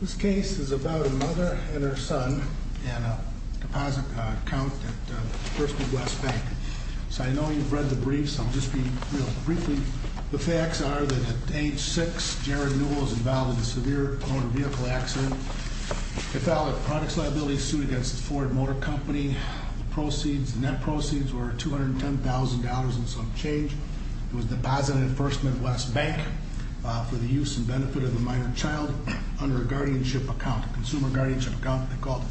This case is about a mother and her son in a deposit account at First Midwest Bank. So I know you've read the briefs, I'll just be real briefly. The facts are that at age six, Jared Newell was involved in a severe motor vehicle accident. He filed a products liability suit against the Ford Motor Company. Proceeds, net proceeds were $210,000 and some change. It was deposited at First Midwest Bank for the use and benefit of a minor child under a guardianship account, a consumer guardianship account they called it.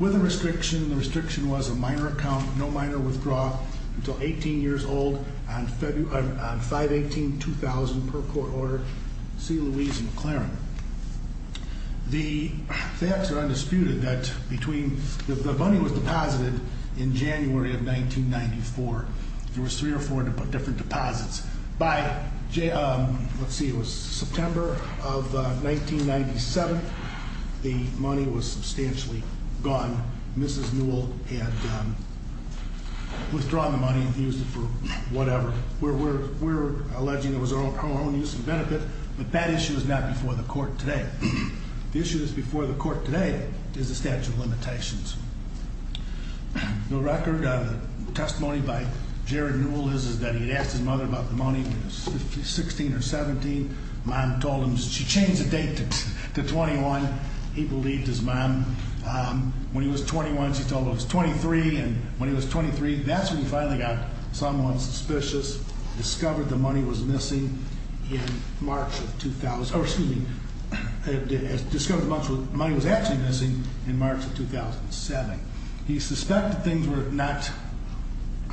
With a restriction, the restriction was a minor account, no minor withdrawal until 18 years old on 5-18-2000 per court order. See Louise McLaren. The facts are undisputed that between, the money was deposited in January of 1994. There was three or four different deposits. By, let's see, it was September of 1997. The money was substantially gone. Mrs. Newell had withdrawn the money and used it for whatever. We're alleging it was our own use and benefit, but that issue is not before the court today. The issue that's before the court today is the statute of limitations. The record of the testimony by Jared Newell is that he had asked his mother about the money when he was 16 or 17. Mom told him, she changed the date to 21, he believed his mom. When he was 21, she told him it was 23, and when he was 23, that's when he finally got somewhat suspicious. Discovered the money was missing in March of 2000, or excuse me. Discovered the money was actually missing in March of 2007. He suspected things were not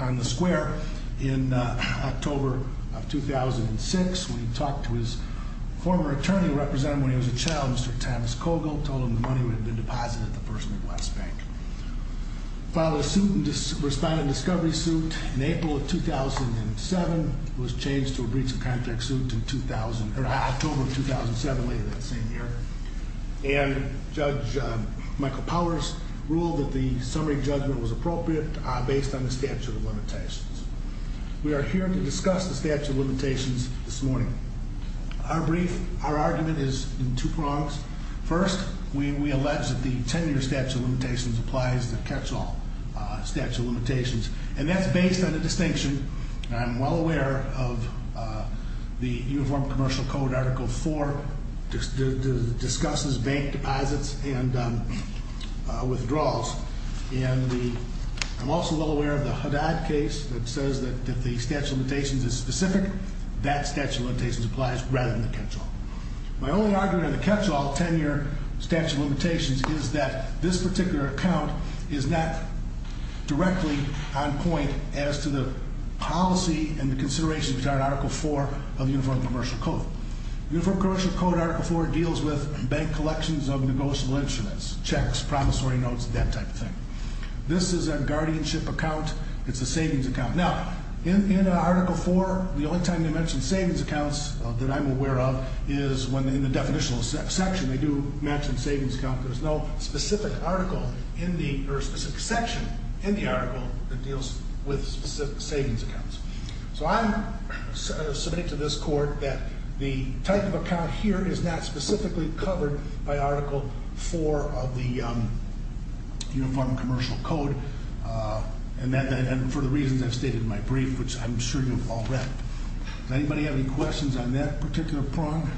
on the square in October of 2006. When he talked to his former attorney, who represented him when he was a child, Mr. Thomas Cogle, told him the money would have been deposited at the First Midwest Bank. Filed a suit, a responding discovery suit in April of 2007. Was changed to a breach of contract suit in October of 2007, later that same year. And Judge Michael Powers ruled that the summary judgment was appropriate based on the statute of limitations. We are here to discuss the statute of limitations this morning. Our brief, our argument is in two prongs. First, we allege that the tenure statute of limitations applies to catch all statute of limitations. And that's based on a distinction, and I'm well aware of the Uniform Commercial Code, Article 4, discusses bank deposits and withdrawals. And I'm also well aware of the Haddad case that says that if the statute of limitations is specific, that statute of limitations applies rather than the catch all. My only argument in the catch all tenure statute of limitations is that this particular account is not directly on point as to the policy and the considerations which are in Article 4 of Uniform Commercial Code. Uniform Commercial Code Article 4 deals with bank collections of negotiable instruments, checks, promissory notes, that type of thing. This is a guardianship account, it's a savings account. Now, in Article 4, the only time they mention savings accounts that I'm aware of is when in the definitional section they do mention savings account. There's no specific section in the article that deals with savings accounts. So I submit to this court that the type of account here is not specifically covered by Article 4 of the Uniform Commercial Code. And for the reasons I've stated in my brief, which I'm sure you've all read. Does anybody have any questions on that particular prong?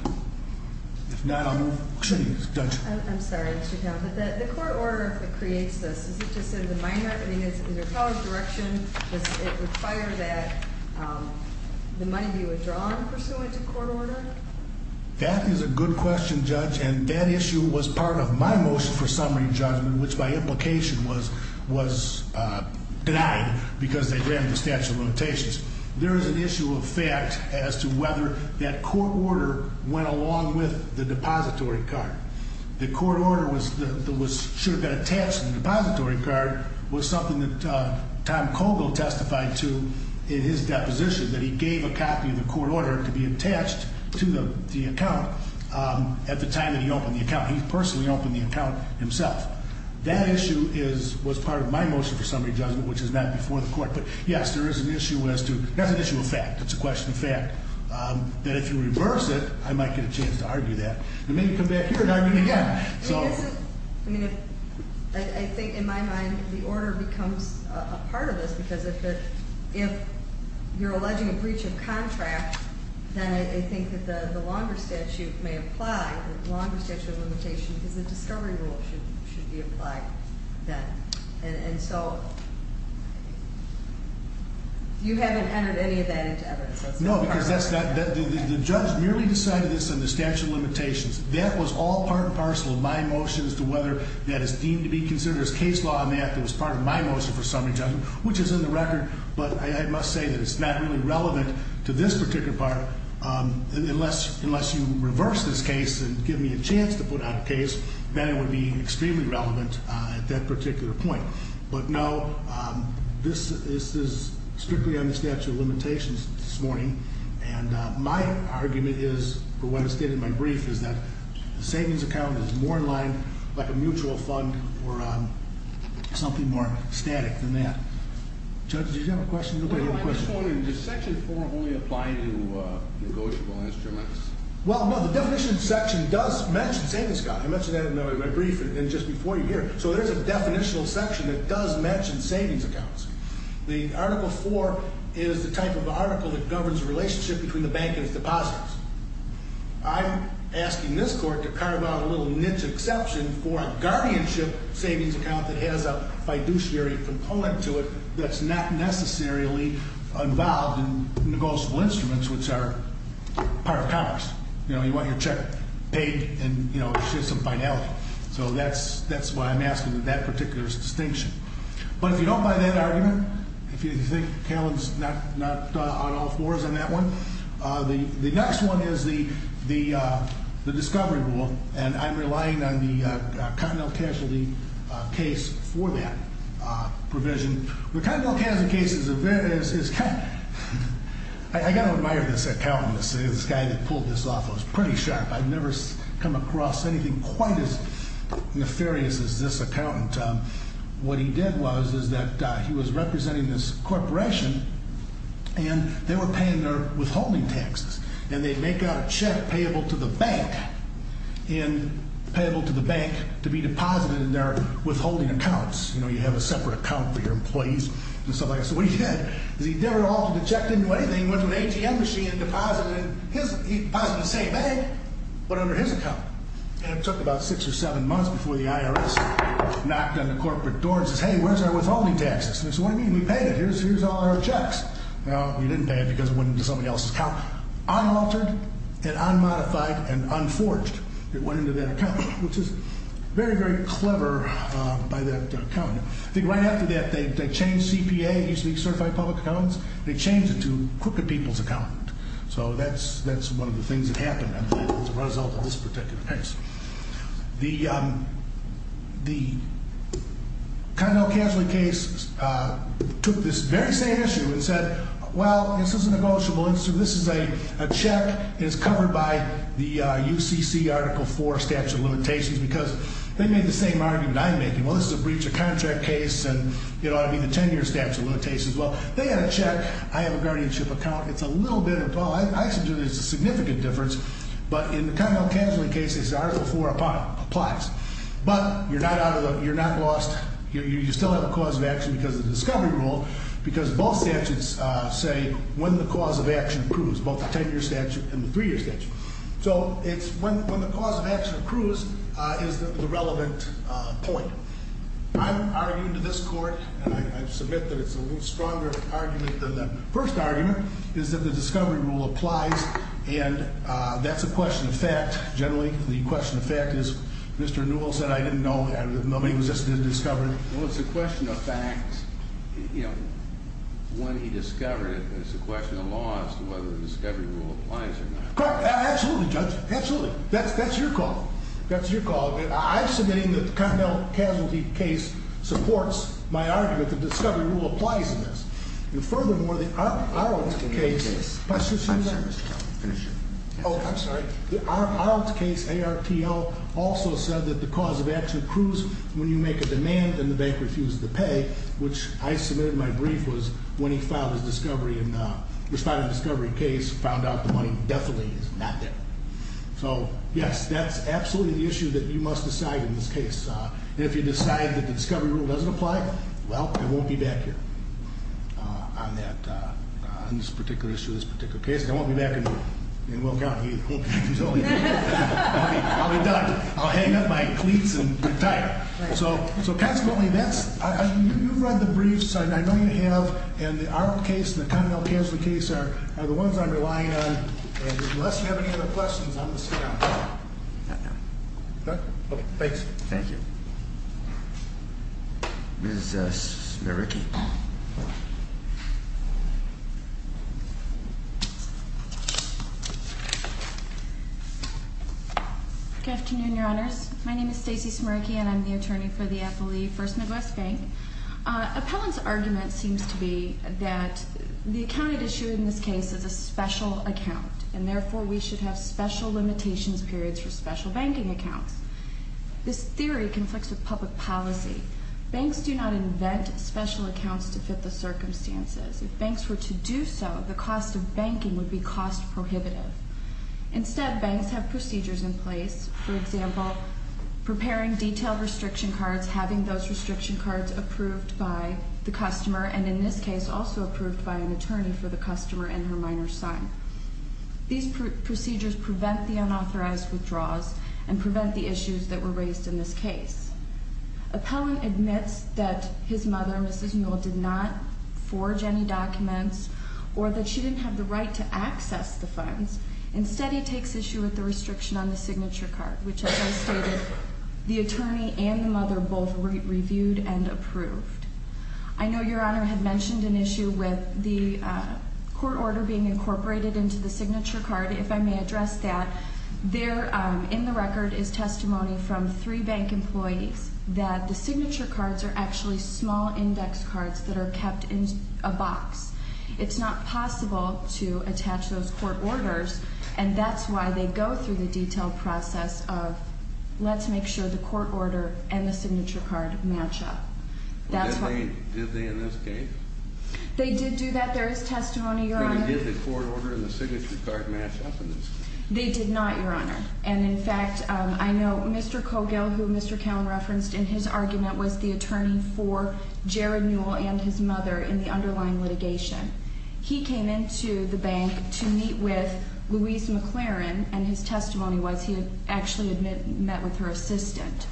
If not, I'll move, excuse me, Judge. I'm sorry, Mr. Towns, but the court order that creates this, is it just in the minor? I mean, is there a college direction? Does it require that the money be withdrawn pursuant to court order? That is a good question, Judge, and that issue was part of my motion for summary judgment, which by implication was denied because they ran the statute of limitations. There is an issue of fact as to whether that court order went along with the depository card. The court order that should have been attached to the depository card was something that Tom Cogle testified to in his deposition, that he gave a copy of the court order to be attached to the account. At the time that he opened the account, he personally opened the account himself. That issue was part of my motion for summary judgment, which is not before the court. But yes, there is an issue as to, that's an issue of fact, it's a question of fact. That if you reverse it, I might get a chance to argue that, and maybe come back here and argue it again, so. I mean, I think in my mind, the order becomes a part of this, because if you're alleging a breach of contract, then I think that the longer statute may apply, the longer statute of limitation, because the discovery rule should be applied then. And so, You haven't entered any of that into evidence. No, because the judge merely decided this in the statute of limitations. That was all part and parcel of my motion as to whether that is deemed to be considered as case law. And that was part of my motion for summary judgment, which is in the record. But I must say that it's not really relevant to this particular part unless you reverse this case and give me a chance to put out a case, then it would be extremely relevant at that particular point. But no, this is strictly on the statute of limitations this morning. And my argument is, or what I stated in my brief, is that the savings account is more in line like a mutual fund or something more static than that. Judge, did you have a question? No, but I'm just wondering, does section four only apply to negotiable instruments? Well, no, the definition section does mention savings accounts. I mentioned that in my brief and just before you here. So there's a definitional section that does mention savings accounts. The article four is the type of article that governs the relationship between the bank and its depositors. I'm asking this court to carve out a little niche exception for a guardianship savings account that has a fiduciary component to it that's not necessarily involved in negotiable instruments, which are part of commerce. You want your check paid and there's some finality. So that's why I'm asking that that particular distinction. But if you don't buy that argument, if you think Callan's not on all fours on that one, the next one is the discovery rule, and I'm relying on the continental casualty case for that provision. The continental casualty case is, I gotta admire this accountant, this guy that pulled this off. It was pretty sharp. I've never come across anything quite as nefarious as this accountant. What he did was, is that he was representing this corporation, and they were paying their withholding taxes, and they'd make out a check payable to the bank, and payable to the bank to be deposited in their withholding accounts. You have a separate account for your employees and stuff like that. So what he did is he never altered the check into anything. He went to an AGM machine and deposited it in his, he deposited it in the same bank, but under his account. And it took about six or seven months before the IRS knocked on the corporate door and says, hey, where's our withholding taxes? And they said, what do you mean, we paid it, here's all our checks. Now, he didn't pay it because it went into somebody else's account. Unaltered, and unmodified, and unforged, it went into that account, which is very, very clever by that accountant. I think right after that, they changed CPA, used to be certified public accountants, they changed it to crooked people's accountant. So that's one of the things that happened, I believe, as a result of this particular case. The Connell Casualty case took this very same issue and said, well, this is a negotiable issue. This is a check, it's covered by the UCC Article 4 statute of limitations because they made the same argument I'm making. Well, this is a breach of contract case, and it ought to be the 10-year statute of limitations. Well, they had a check, I have a guardianship account. It's a little bit of, well, I suggest it's a significant difference, but in the Connell Casualty case, this Article 4 applies. But you're not lost, you still have a cause of action because of the discovery rule. Because both statutes say when the cause of action approves, both the 10-year statute and the three-year statute. So it's when the cause of action approves is the relevant point. I'm arguing to this court, and I submit that it's a little stronger argument than the first argument, is that the discovery rule applies, and that's a question of fact, generally. The question of fact is, Mr. Newell said I didn't know, nobody just discovered it. Well, it's a question of fact, when he discovered it, it's a question of law as to whether the discovery rule applies or not. Correct, absolutely, Judge, absolutely. That's your call. That's your call. I'm submitting that the Connell Casualty case supports my argument that the discovery rule applies in this. And furthermore, the Arlton case, I'm sorry, Mr. Kelly, finish it. I'm sorry, the Arlton case, ARPL, also said that the cause of action accrues when you make a demand and the bank refuses to pay, which I submitted my brief was when he filed his discovery and responded to discovery case, found out the money definitely is not there. So yes, that's absolutely the issue that you must decide in this case. And if you decide that the discovery rule doesn't apply, well, I won't be back here. On this particular issue, this particular case, I won't be back in Will County. I'll be done. I'll hang up my cleats and retire. So consequently, you've read the briefs, I know you have, and the Arlton case and the Connell Casualty case are the ones I'm relying on. And unless you have any other questions, I'm going to sit down. Okay, thanks. Thank you. Ms. Smiercki. Good afternoon, your honors. My name is Stacey Smiercki and I'm the attorney for the FLE First Midwest Bank. Appellant's argument seems to be that the accounted issue in this case is a special account. And therefore, we should have special limitations periods for special banking accounts. This theory conflicts with public policy. Banks do not invent special accounts to fit the circumstances. If banks were to do so, the cost of banking would be cost prohibitive. Instead, banks have procedures in place, for example, preparing detailed restriction cards, having those restriction cards approved by the customer, and in this case, also approved by an attorney for the customer and her minor son. These procedures prevent the unauthorized withdrawals and prevent the issues that were raised in this case. Appellant admits that his mother, Mrs. Newell, did not forge any documents or that she didn't have the right to access the funds. Instead, he takes issue with the restriction on the signature card, which as I stated, the attorney and the mother both reviewed and approved. I know your honor had mentioned an issue with the court order being incorporated into the signature card. If I may address that, there in the record is testimony from three bank employees that the signature cards are actually small index cards that are kept in a box. It's not possible to attach those court orders, and that's why they go through the detailed process of let's make sure the court order and the signature card match up. Did they in this case? They did do that. There is testimony, your honor. Did the court order and the signature card match up in this case? They did not, your honor. And in fact, I know Mr. Cogill, who Mr. Callen referenced in his argument, was the attorney for Jared Newell and his mother in the underlying litigation. He came into the bank to meet with Louise McLaren, and his testimony was he had actually met with her assistant.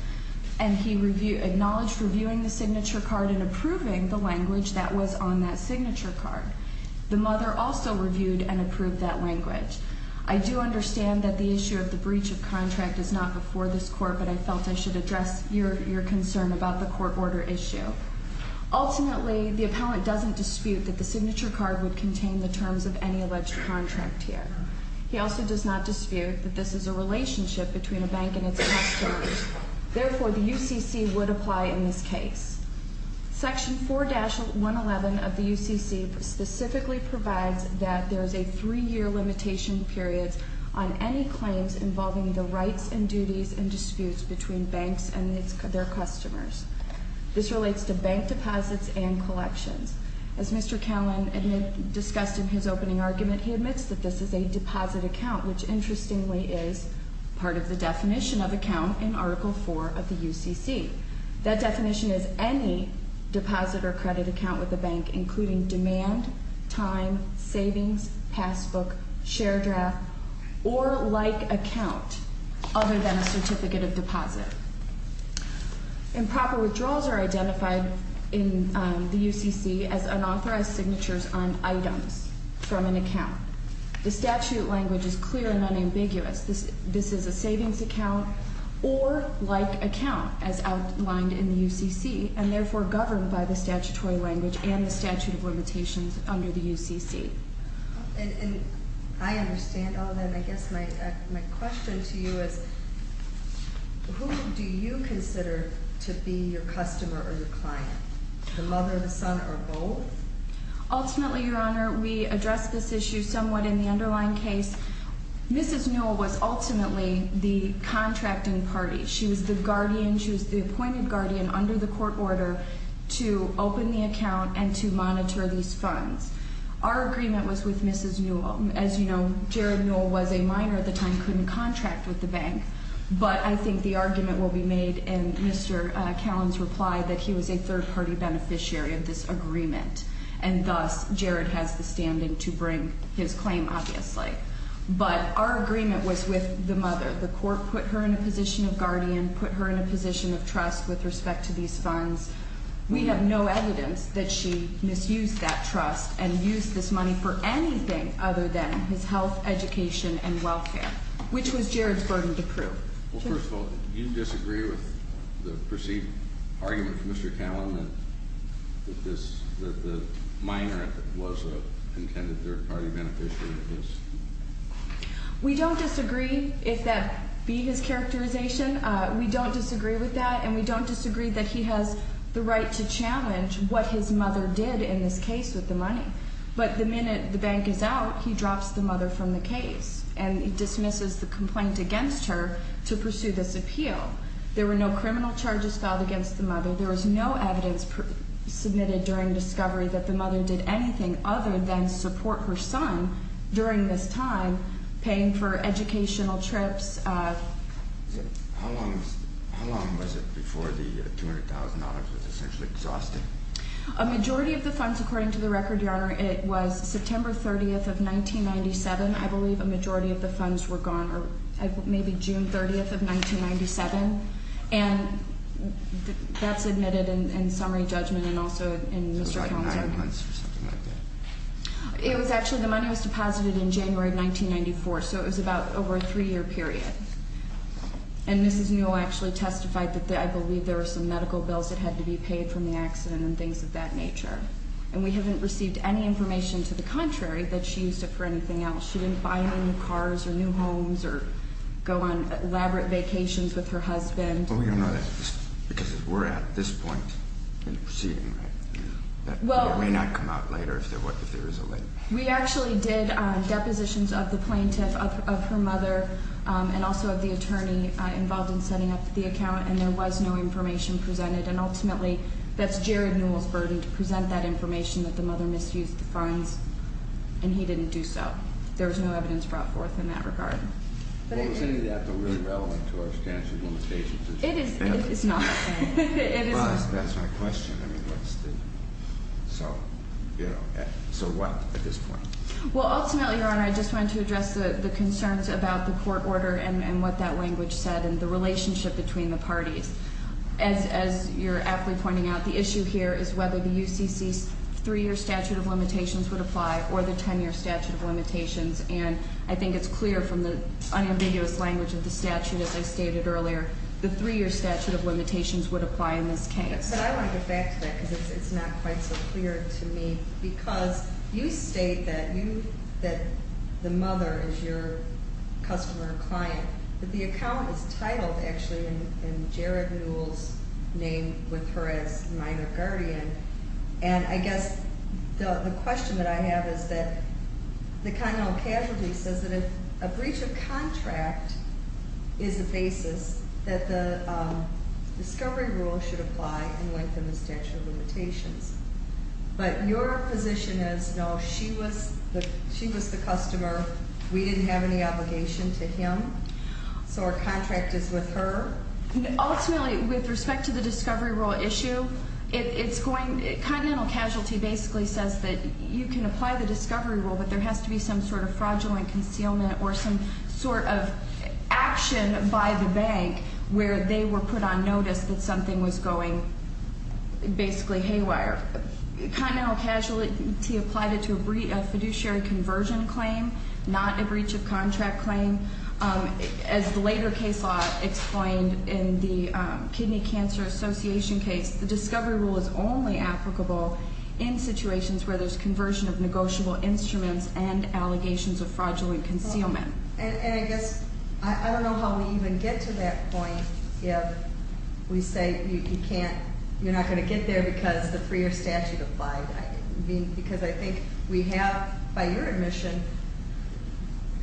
And he acknowledged reviewing the signature card and approving the language that was on that signature card. The mother also reviewed and approved that language. I do understand that the issue of the breach of contract is not before this court, but I felt I should address your concern about the court order issue. Ultimately, the appellant doesn't dispute that the signature card would contain the terms of any alleged contract here. He also does not dispute that this is a relationship between a bank and its customers. Therefore, the UCC would apply in this case. Section 4-111 of the UCC specifically provides that there is a three year limitation period on any claims involving the rights and duties and disputes between banks and their customers. This relates to bank deposits and collections. As Mr. Callen discussed in his opening argument, he admits that this is a deposit account, which interestingly is part of the definition of account in Article 4 of the UCC. That definition is any deposit or credit account with the bank, including demand, time, savings, passbook, share draft, or like account other than a certificate of deposit. Improper withdrawals are identified in the UCC as unauthorized signatures on items from an account. The statute language is clear and unambiguous. This is a savings account or like account as outlined in the UCC and therefore governed by the statutory language and the statute of limitations under the UCC. And I understand all that, and I guess my question to you is, who do you consider to be your customer or your client? The mother, the son, or both? Ultimately, Your Honor, we address this issue somewhat in the underlying case. Mrs. Newell was ultimately the contracting party. She was the guardian, she was the appointed guardian under the court order to open the account and to monitor these funds. Our agreement was with Mrs. Newell. As you know, Jared Newell was a minor at the time, couldn't contract with the bank. But I think the argument will be made in Mr. Callan's reply that he was a third party beneficiary of this agreement. And thus, Jared has the standing to bring his claim, obviously. But our agreement was with the mother. The court put her in a position of guardian, put her in a position of trust with respect to these funds. We have no evidence that she misused that trust and used this money for anything other than his health, education, and welfare, which was Jared's burden to prove. Well, first of all, do you disagree with the perceived argument from Mr. Callan that the minor was a intended third party beneficiary of this? We don't disagree, if that be his characterization. We don't disagree with that, and we don't disagree that he has the right to challenge what his mother did in this case with the money. But the minute the bank is out, he drops the mother from the case and dismisses the complaint against her to pursue this appeal. There were no criminal charges filed against the mother. There was no evidence submitted during discovery that the mother did anything other than support her son during this time, paying for educational trips. How long was it before the $200,000 was essentially exhausted? A majority of the funds, according to the record, Your Honor, it was September 30th of 1997, I believe a majority of the funds were gone, or maybe June 30th of 1997. And that's admitted in summary judgment and also in Mr. Callan's argument. So it was like nine months or something like that? It was actually, the money was deposited in January of 1994, so it was about over a three year period. And Mrs. Newell actually testified that I believe there were some medical bills that had to be paid from the accident and things of that nature. And we haven't received any information to the contrary that she used it for anything else. She didn't buy any new cars or new homes or go on elaborate vacations with her husband. Well, we don't know that because we're at this point in the proceeding, right? It may not come out later if there is a late. We actually did depositions of the plaintiff, of her mother, and also of the attorney involved in setting up the account, and there was no information presented. And ultimately, that's Jared Newell's burden to present that information that the mother misused the funds, and he didn't do so. There was no evidence brought forth in that regard. But is any of that really relevant to our statute of limitations? It is not. It is not. That's my question, I mean, what's the, so what at this point? Well, ultimately, Your Honor, I just wanted to address the concerns about the court order and what that language said and the relationship between the parties. As you're aptly pointing out, the issue here is whether the UCC's three year statute of limitations would apply or the ten year statute of limitations. And I think it's clear from the unambiguous language of the statute, as I stated earlier, the three year statute of limitations would apply in this case. But I want to go back to that because it's not quite so clear to me. Because you state that the mother is your customer or client. But the account is titled actually in Jared Newell's name with her as minor guardian. And I guess the question that I have is that the kind of casualty says that if a breach of contract is the basis that the discovery rule should apply and lengthen the statute of limitations. But your position is, no, she was the customer. We didn't have any obligation to him. So our contract is with her? Ultimately, with respect to the discovery rule issue, it's going, continental casualty basically says that you can apply the discovery rule, but there has to be some sort of fraudulent concealment or some sort of action by the bank where they were put on notice that something was going basically haywire. Continental casualty applied it to a fiduciary conversion claim, not a breach of contract claim. As the later case law explained in the kidney cancer association case, the discovery rule is only applicable in situations where there's conversion of negotiable instruments and allegations of fraudulent concealment. And I guess, I don't know how we even get to that point if we say you can't, you're not going to get there because the freer statute applied, because I think we have, by your admission,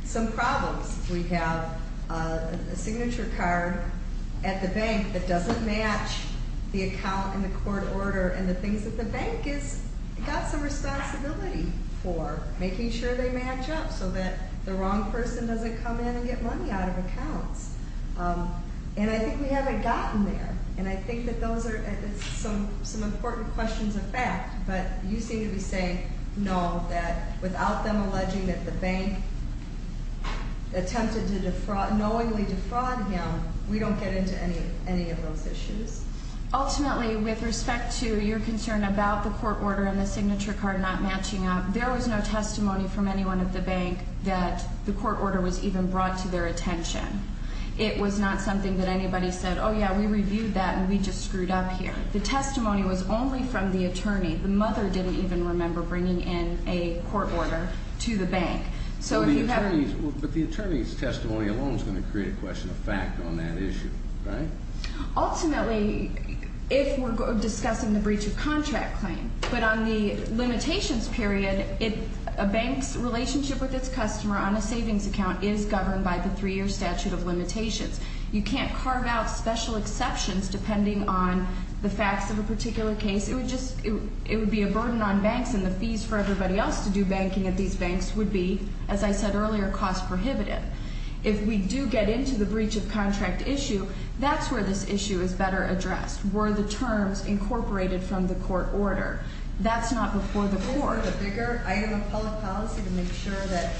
some problems. We have a signature card at the bank that doesn't match the account and the court order and the things that the bank has got some responsibility for, making sure they match up so that the wrong person doesn't come in and get money out of accounts. And I think we haven't gotten there, and I think that those are some important questions of fact. But you seem to be saying no, that without them alleging that the bank attempted to knowingly defraud him, we don't get into any of those issues. Ultimately, with respect to your concern about the court order and the signature card not matching up, there was no testimony from anyone at the bank that the court order was even brought to their attention. It was not something that anybody said, yeah, we reviewed that and we just screwed up here. The testimony was only from the attorney. The mother didn't even remember bringing in a court order to the bank. So if you have- But the attorney's testimony alone is going to create a question of fact on that issue, right? Ultimately, if we're discussing the breach of contract claim, but on the limitations period, a bank's relationship with its customer on a savings account is governed by the three year statute of limitations, you can't carve out special exceptions depending on the facts of a particular case, it would be a burden on banks and the fees for everybody else to do banking at these banks would be, as I said earlier, cost prohibitive. If we do get into the breach of contract issue, that's where this issue is better addressed. Were the terms incorporated from the court order? That's not before the court. A bigger item of public policy to make sure that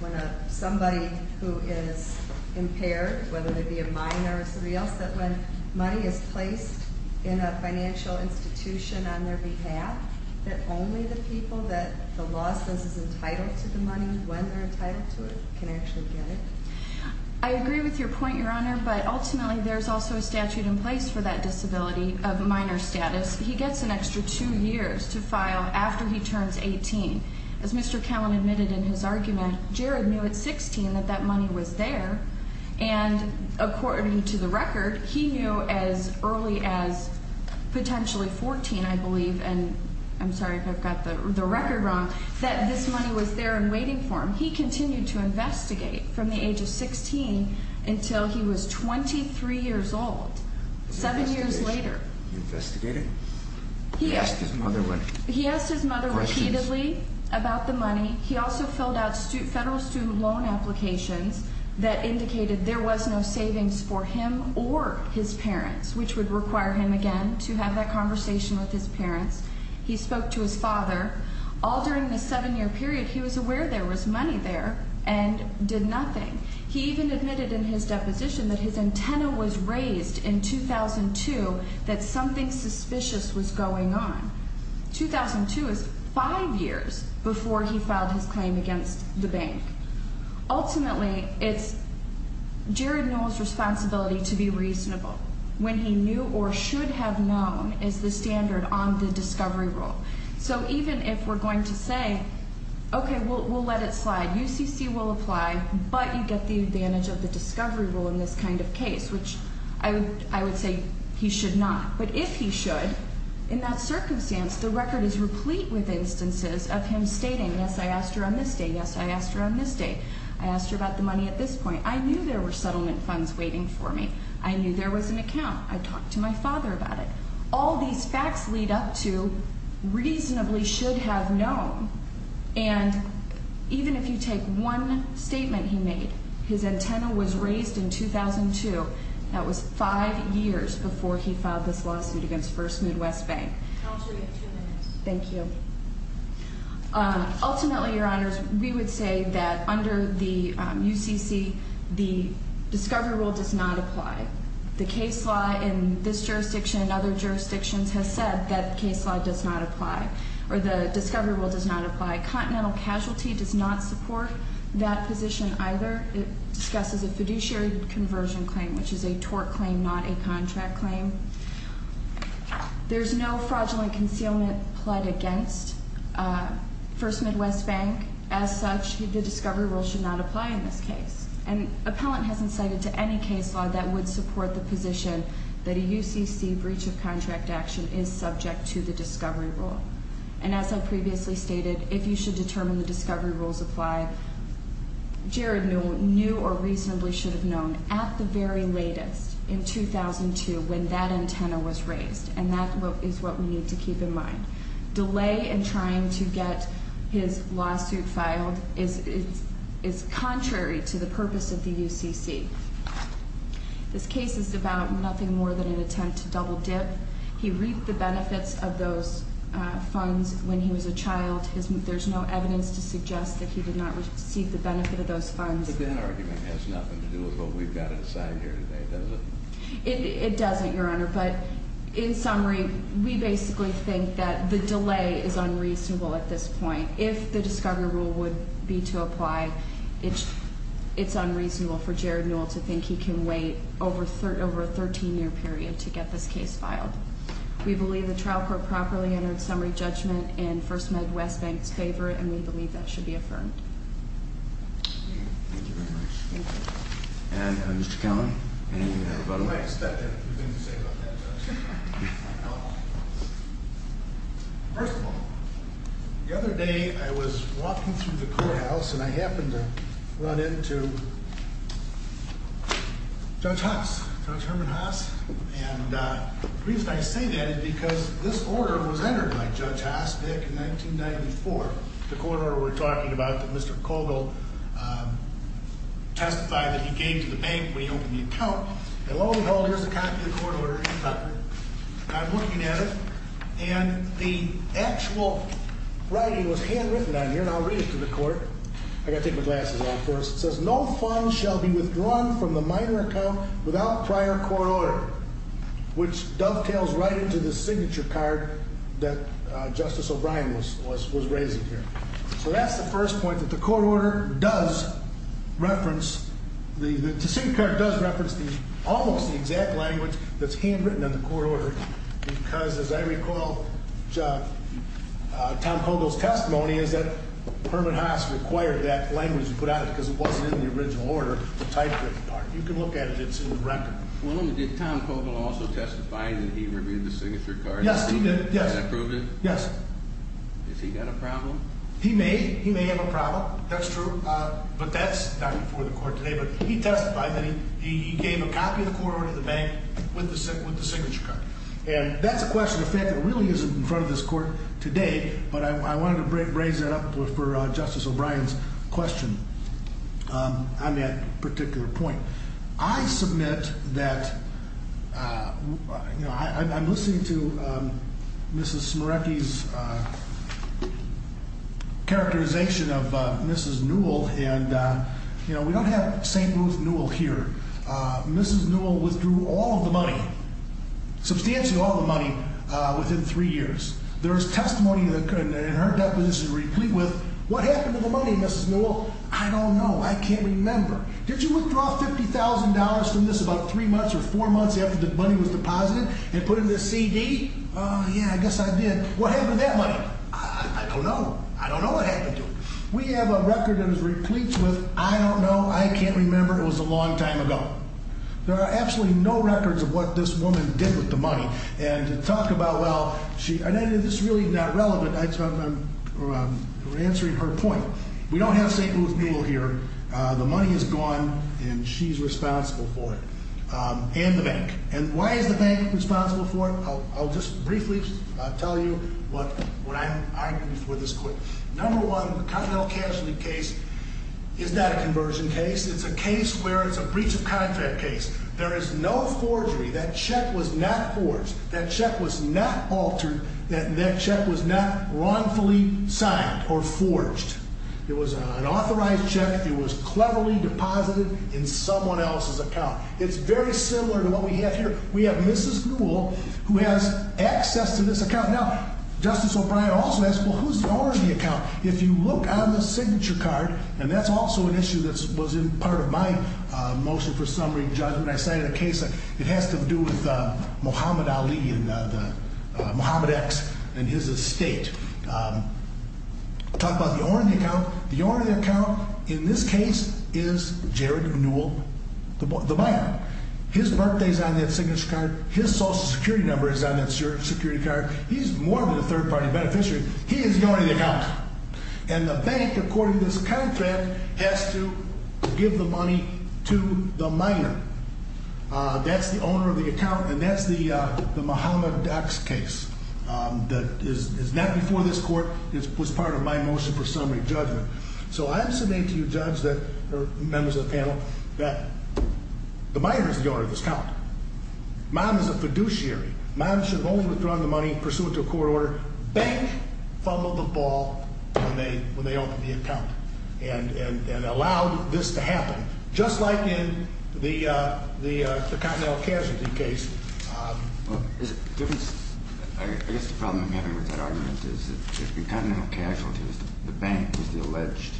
when somebody who is impaired, whether they be a minor or somebody else, that when money is placed in a financial institution on their behalf, that only the people that the law says is entitled to the money, when they're entitled to it, can actually get it? I agree with your point, Your Honor, but ultimately there's also a statute in place for that disability of minor status. He gets an extra two years to file after he turns 18. As Mr. Cowan admitted in his argument, Jared knew at 16 that that money was there. And according to the record, he knew as early as potentially 14, I believe, and I'm sorry if I've got the record wrong, that this money was there and waiting for him. He continued to investigate from the age of 16 until he was 23 years old, seven years later. Investigated? He asked his mother what? He asked his mother repeatedly about the money. He also filled out federal student loan applications that indicated there was no savings for him or his parents, which would require him again to have that conversation with his parents. He spoke to his father. All during this seven year period, he was aware there was money there and did nothing. He even admitted in his deposition that his antenna was raised in 2002 that something suspicious was going on. 2002 is five years before he filed his claim against the bank. Ultimately, it's Jared Newell's responsibility to be reasonable. When he knew or should have known is the standard on the discovery rule. So even if we're going to say, okay, we'll let it slide. UCC will apply, but you get the advantage of the discovery rule in this kind of case, which I would say he should not. But if he should, in that circumstance, the record is replete with instances of him stating, yes, I asked her on this date. Yes, I asked her on this date. I asked her about the money at this point. I knew there were settlement funds waiting for me. I knew there was an account. I talked to my father about it. All these facts lead up to reasonably should have known. And even if you take one statement he made, his antenna was raised in 2002. That was five years before he filed this lawsuit against First Midwest Bank. Counsel, you have two minutes. Thank you. Ultimately, your honors, we would say that under the UCC, the discovery rule does not apply. The case law in this jurisdiction and other jurisdictions has said that the case law does not apply. Or the discovery rule does not apply. Continental Casualty does not support that position either. It discusses a fiduciary conversion claim, which is a tort claim, not a contract claim. There's no fraudulent concealment pled against First Midwest Bank. As such, the discovery rule should not apply in this case. And appellant hasn't cited to any case law that would support the position that a UCC breach of contract action is subject to the discovery rule. And as I previously stated, if you should determine the discovery rules apply, Jared knew or reasonably should have known at the very latest in 2002 when that antenna was raised. And that is what we need to keep in mind. Delay in trying to get his lawsuit filed is contrary to the purpose of the UCC. This case is about nothing more than an attempt to double dip. He reaped the benefits of those funds when he was a child. There's no evidence to suggest that he did not receive the benefit of those funds. But that argument has nothing to do with what we've got inside here today, does it? It doesn't, your honor. But in summary, we basically think that the delay is unreasonable at this point. If the discovery rule would be to apply, it's unreasonable for We believe the trial court properly entered summary judgment in First Med West Bank's favor, and we believe that should be affirmed. Thank you very much. And Mr. Kelly, anything you have about him? I just have a few things to say about that, Judge. First of all, the other day I was walking through the courthouse and I happened to run into Judge Hass, Judge Herman Hass. And the reason I say that is because this order was entered by Judge Hass back in 1994. The court order we're talking about that Mr. Kogel testified that he gave to the bank when he opened the account. And lo and behold, here's a copy of the court order he filed. I'm looking at it, and the actual writing was handwritten on here, and I'll read it to the court. I gotta take my glasses off first. It says, no funds shall be withdrawn from the minor account without prior court order, which dovetails right into the signature card that Justice O'Brien was raising here. So that's the first point, that the court order does reference, the signature card does reference almost the exact language that's handwritten on the court order. Because as I recall, Tom Kogel's testimony is that Herman Hass required that language to put out because it wasn't in the original order to type that part. You can look at it, it's in the record. Well, did Tom Kogel also testify that he reviewed the signature card? Yes, he did, yes. Did he approve it? Yes. Has he got a problem? He may, he may have a problem, that's true. But that's not before the court today. But he testified that he gave a copy of the court order to the bank with the signature card. And that's a question of fact that really isn't in front of this court today. But I wanted to raise that up for Justice O'Brien's question on that particular point. I submit that, I'm listening to Mrs. Smerecki's characterization of Mrs. Newell. And we don't have St. Ruth Newell here. Mrs. Newell withdrew all of the money, substantially all of the money within three years. There's testimony in her deposition replete with, what happened to the money, Mrs. Newell? I don't know, I can't remember. Did you withdraw $50,000 from this about three months or four months after the money was deposited and put it in a CD? Yeah, I guess I did. What happened to that money? I don't know, I don't know what happened to it. We have a record that is replete with, I don't know, I can't remember, it was a long time ago. There are absolutely no records of what this woman did with the money. And to talk about, well, this is really not relevant, I'm answering her point. We don't have St. Ruth Newell here. The money is gone and she's responsible for it, and the bank. And why is the bank responsible for it? I'll just briefly tell you what I'm arguing for this court. Number one, the Continental Casualty case is not a conversion case. It's a case where it's a breach of contract case. There is no forgery. That check was not forged, that check was not altered, that check was not wrongfully signed or forged. It was an authorized check, it was cleverly deposited in someone else's account. It's very similar to what we have here. We have Mrs. Newell, who has access to this account. Now, Justice O'Brien also asked, well, who's the owner of the account? If you look on the signature card, and that's also an issue that was in part of my motion for what to do with Muhammad Ali and Muhammad X and his estate. Talk about the owner of the account, the owner of the account, in this case, is Jared Newell, the buyer. His birthday's on that signature card, his social security number is on that security card. He's more than a third party beneficiary, he is the owner of the account. And the bank, according to this contract, has to give the money to the miner. That's the owner of the account, and that's the Muhammad X case. That is not before this court, it was part of my motion for summary judgment. So I have submitted to you judge that, or members of the panel, that the miner is the owner of this account. Mine is a fiduciary. Mine should only withdraw the money pursuant to a court order. Bank fumbled the ball when they opened the account and allowed this to happen. Just like in the Continental Casualty case. I guess the problem I'm having with that argument is that in Continental Casualty, the bank is the alleged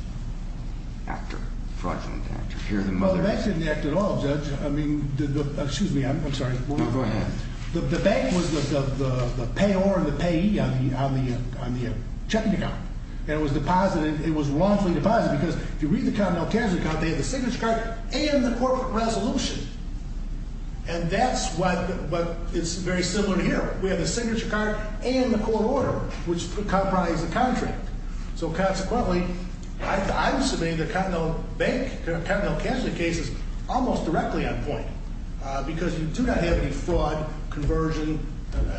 actor, fraudulent actor, here in the mother- Well, the bank didn't act at all, judge. I mean, excuse me, I'm sorry. No, go ahead. The bank was the payor and the payee on the checking account. And it was wrongfully deposited, because if you read the Continental Casualty account, they have the signature card and the corporate resolution. And that's what, it's very similar here. We have the signature card and the court order, which comprise the contract. So consequently, I'm submitting the Continental Casualty case is almost directly on point. Because you do not have any fraud, conversion,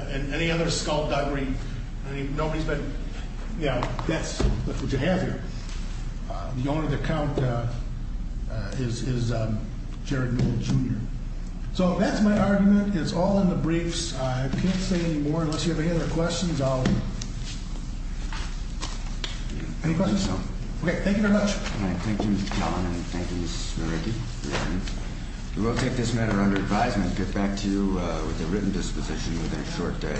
and any other skullduggery. Nobody's been, yeah, that's what you have here. The owner of the account is Jared Miller Jr. So that's my argument, it's all in the briefs. I can't say any more, unless you have any other questions, I'll. Any questions? Okay, thank you very much. All right, thank you, Mr. Kellerman, and thank you, Ms. Maricki, for your time. We will take this matter under advisement, get back to you with a written disposition within a short day.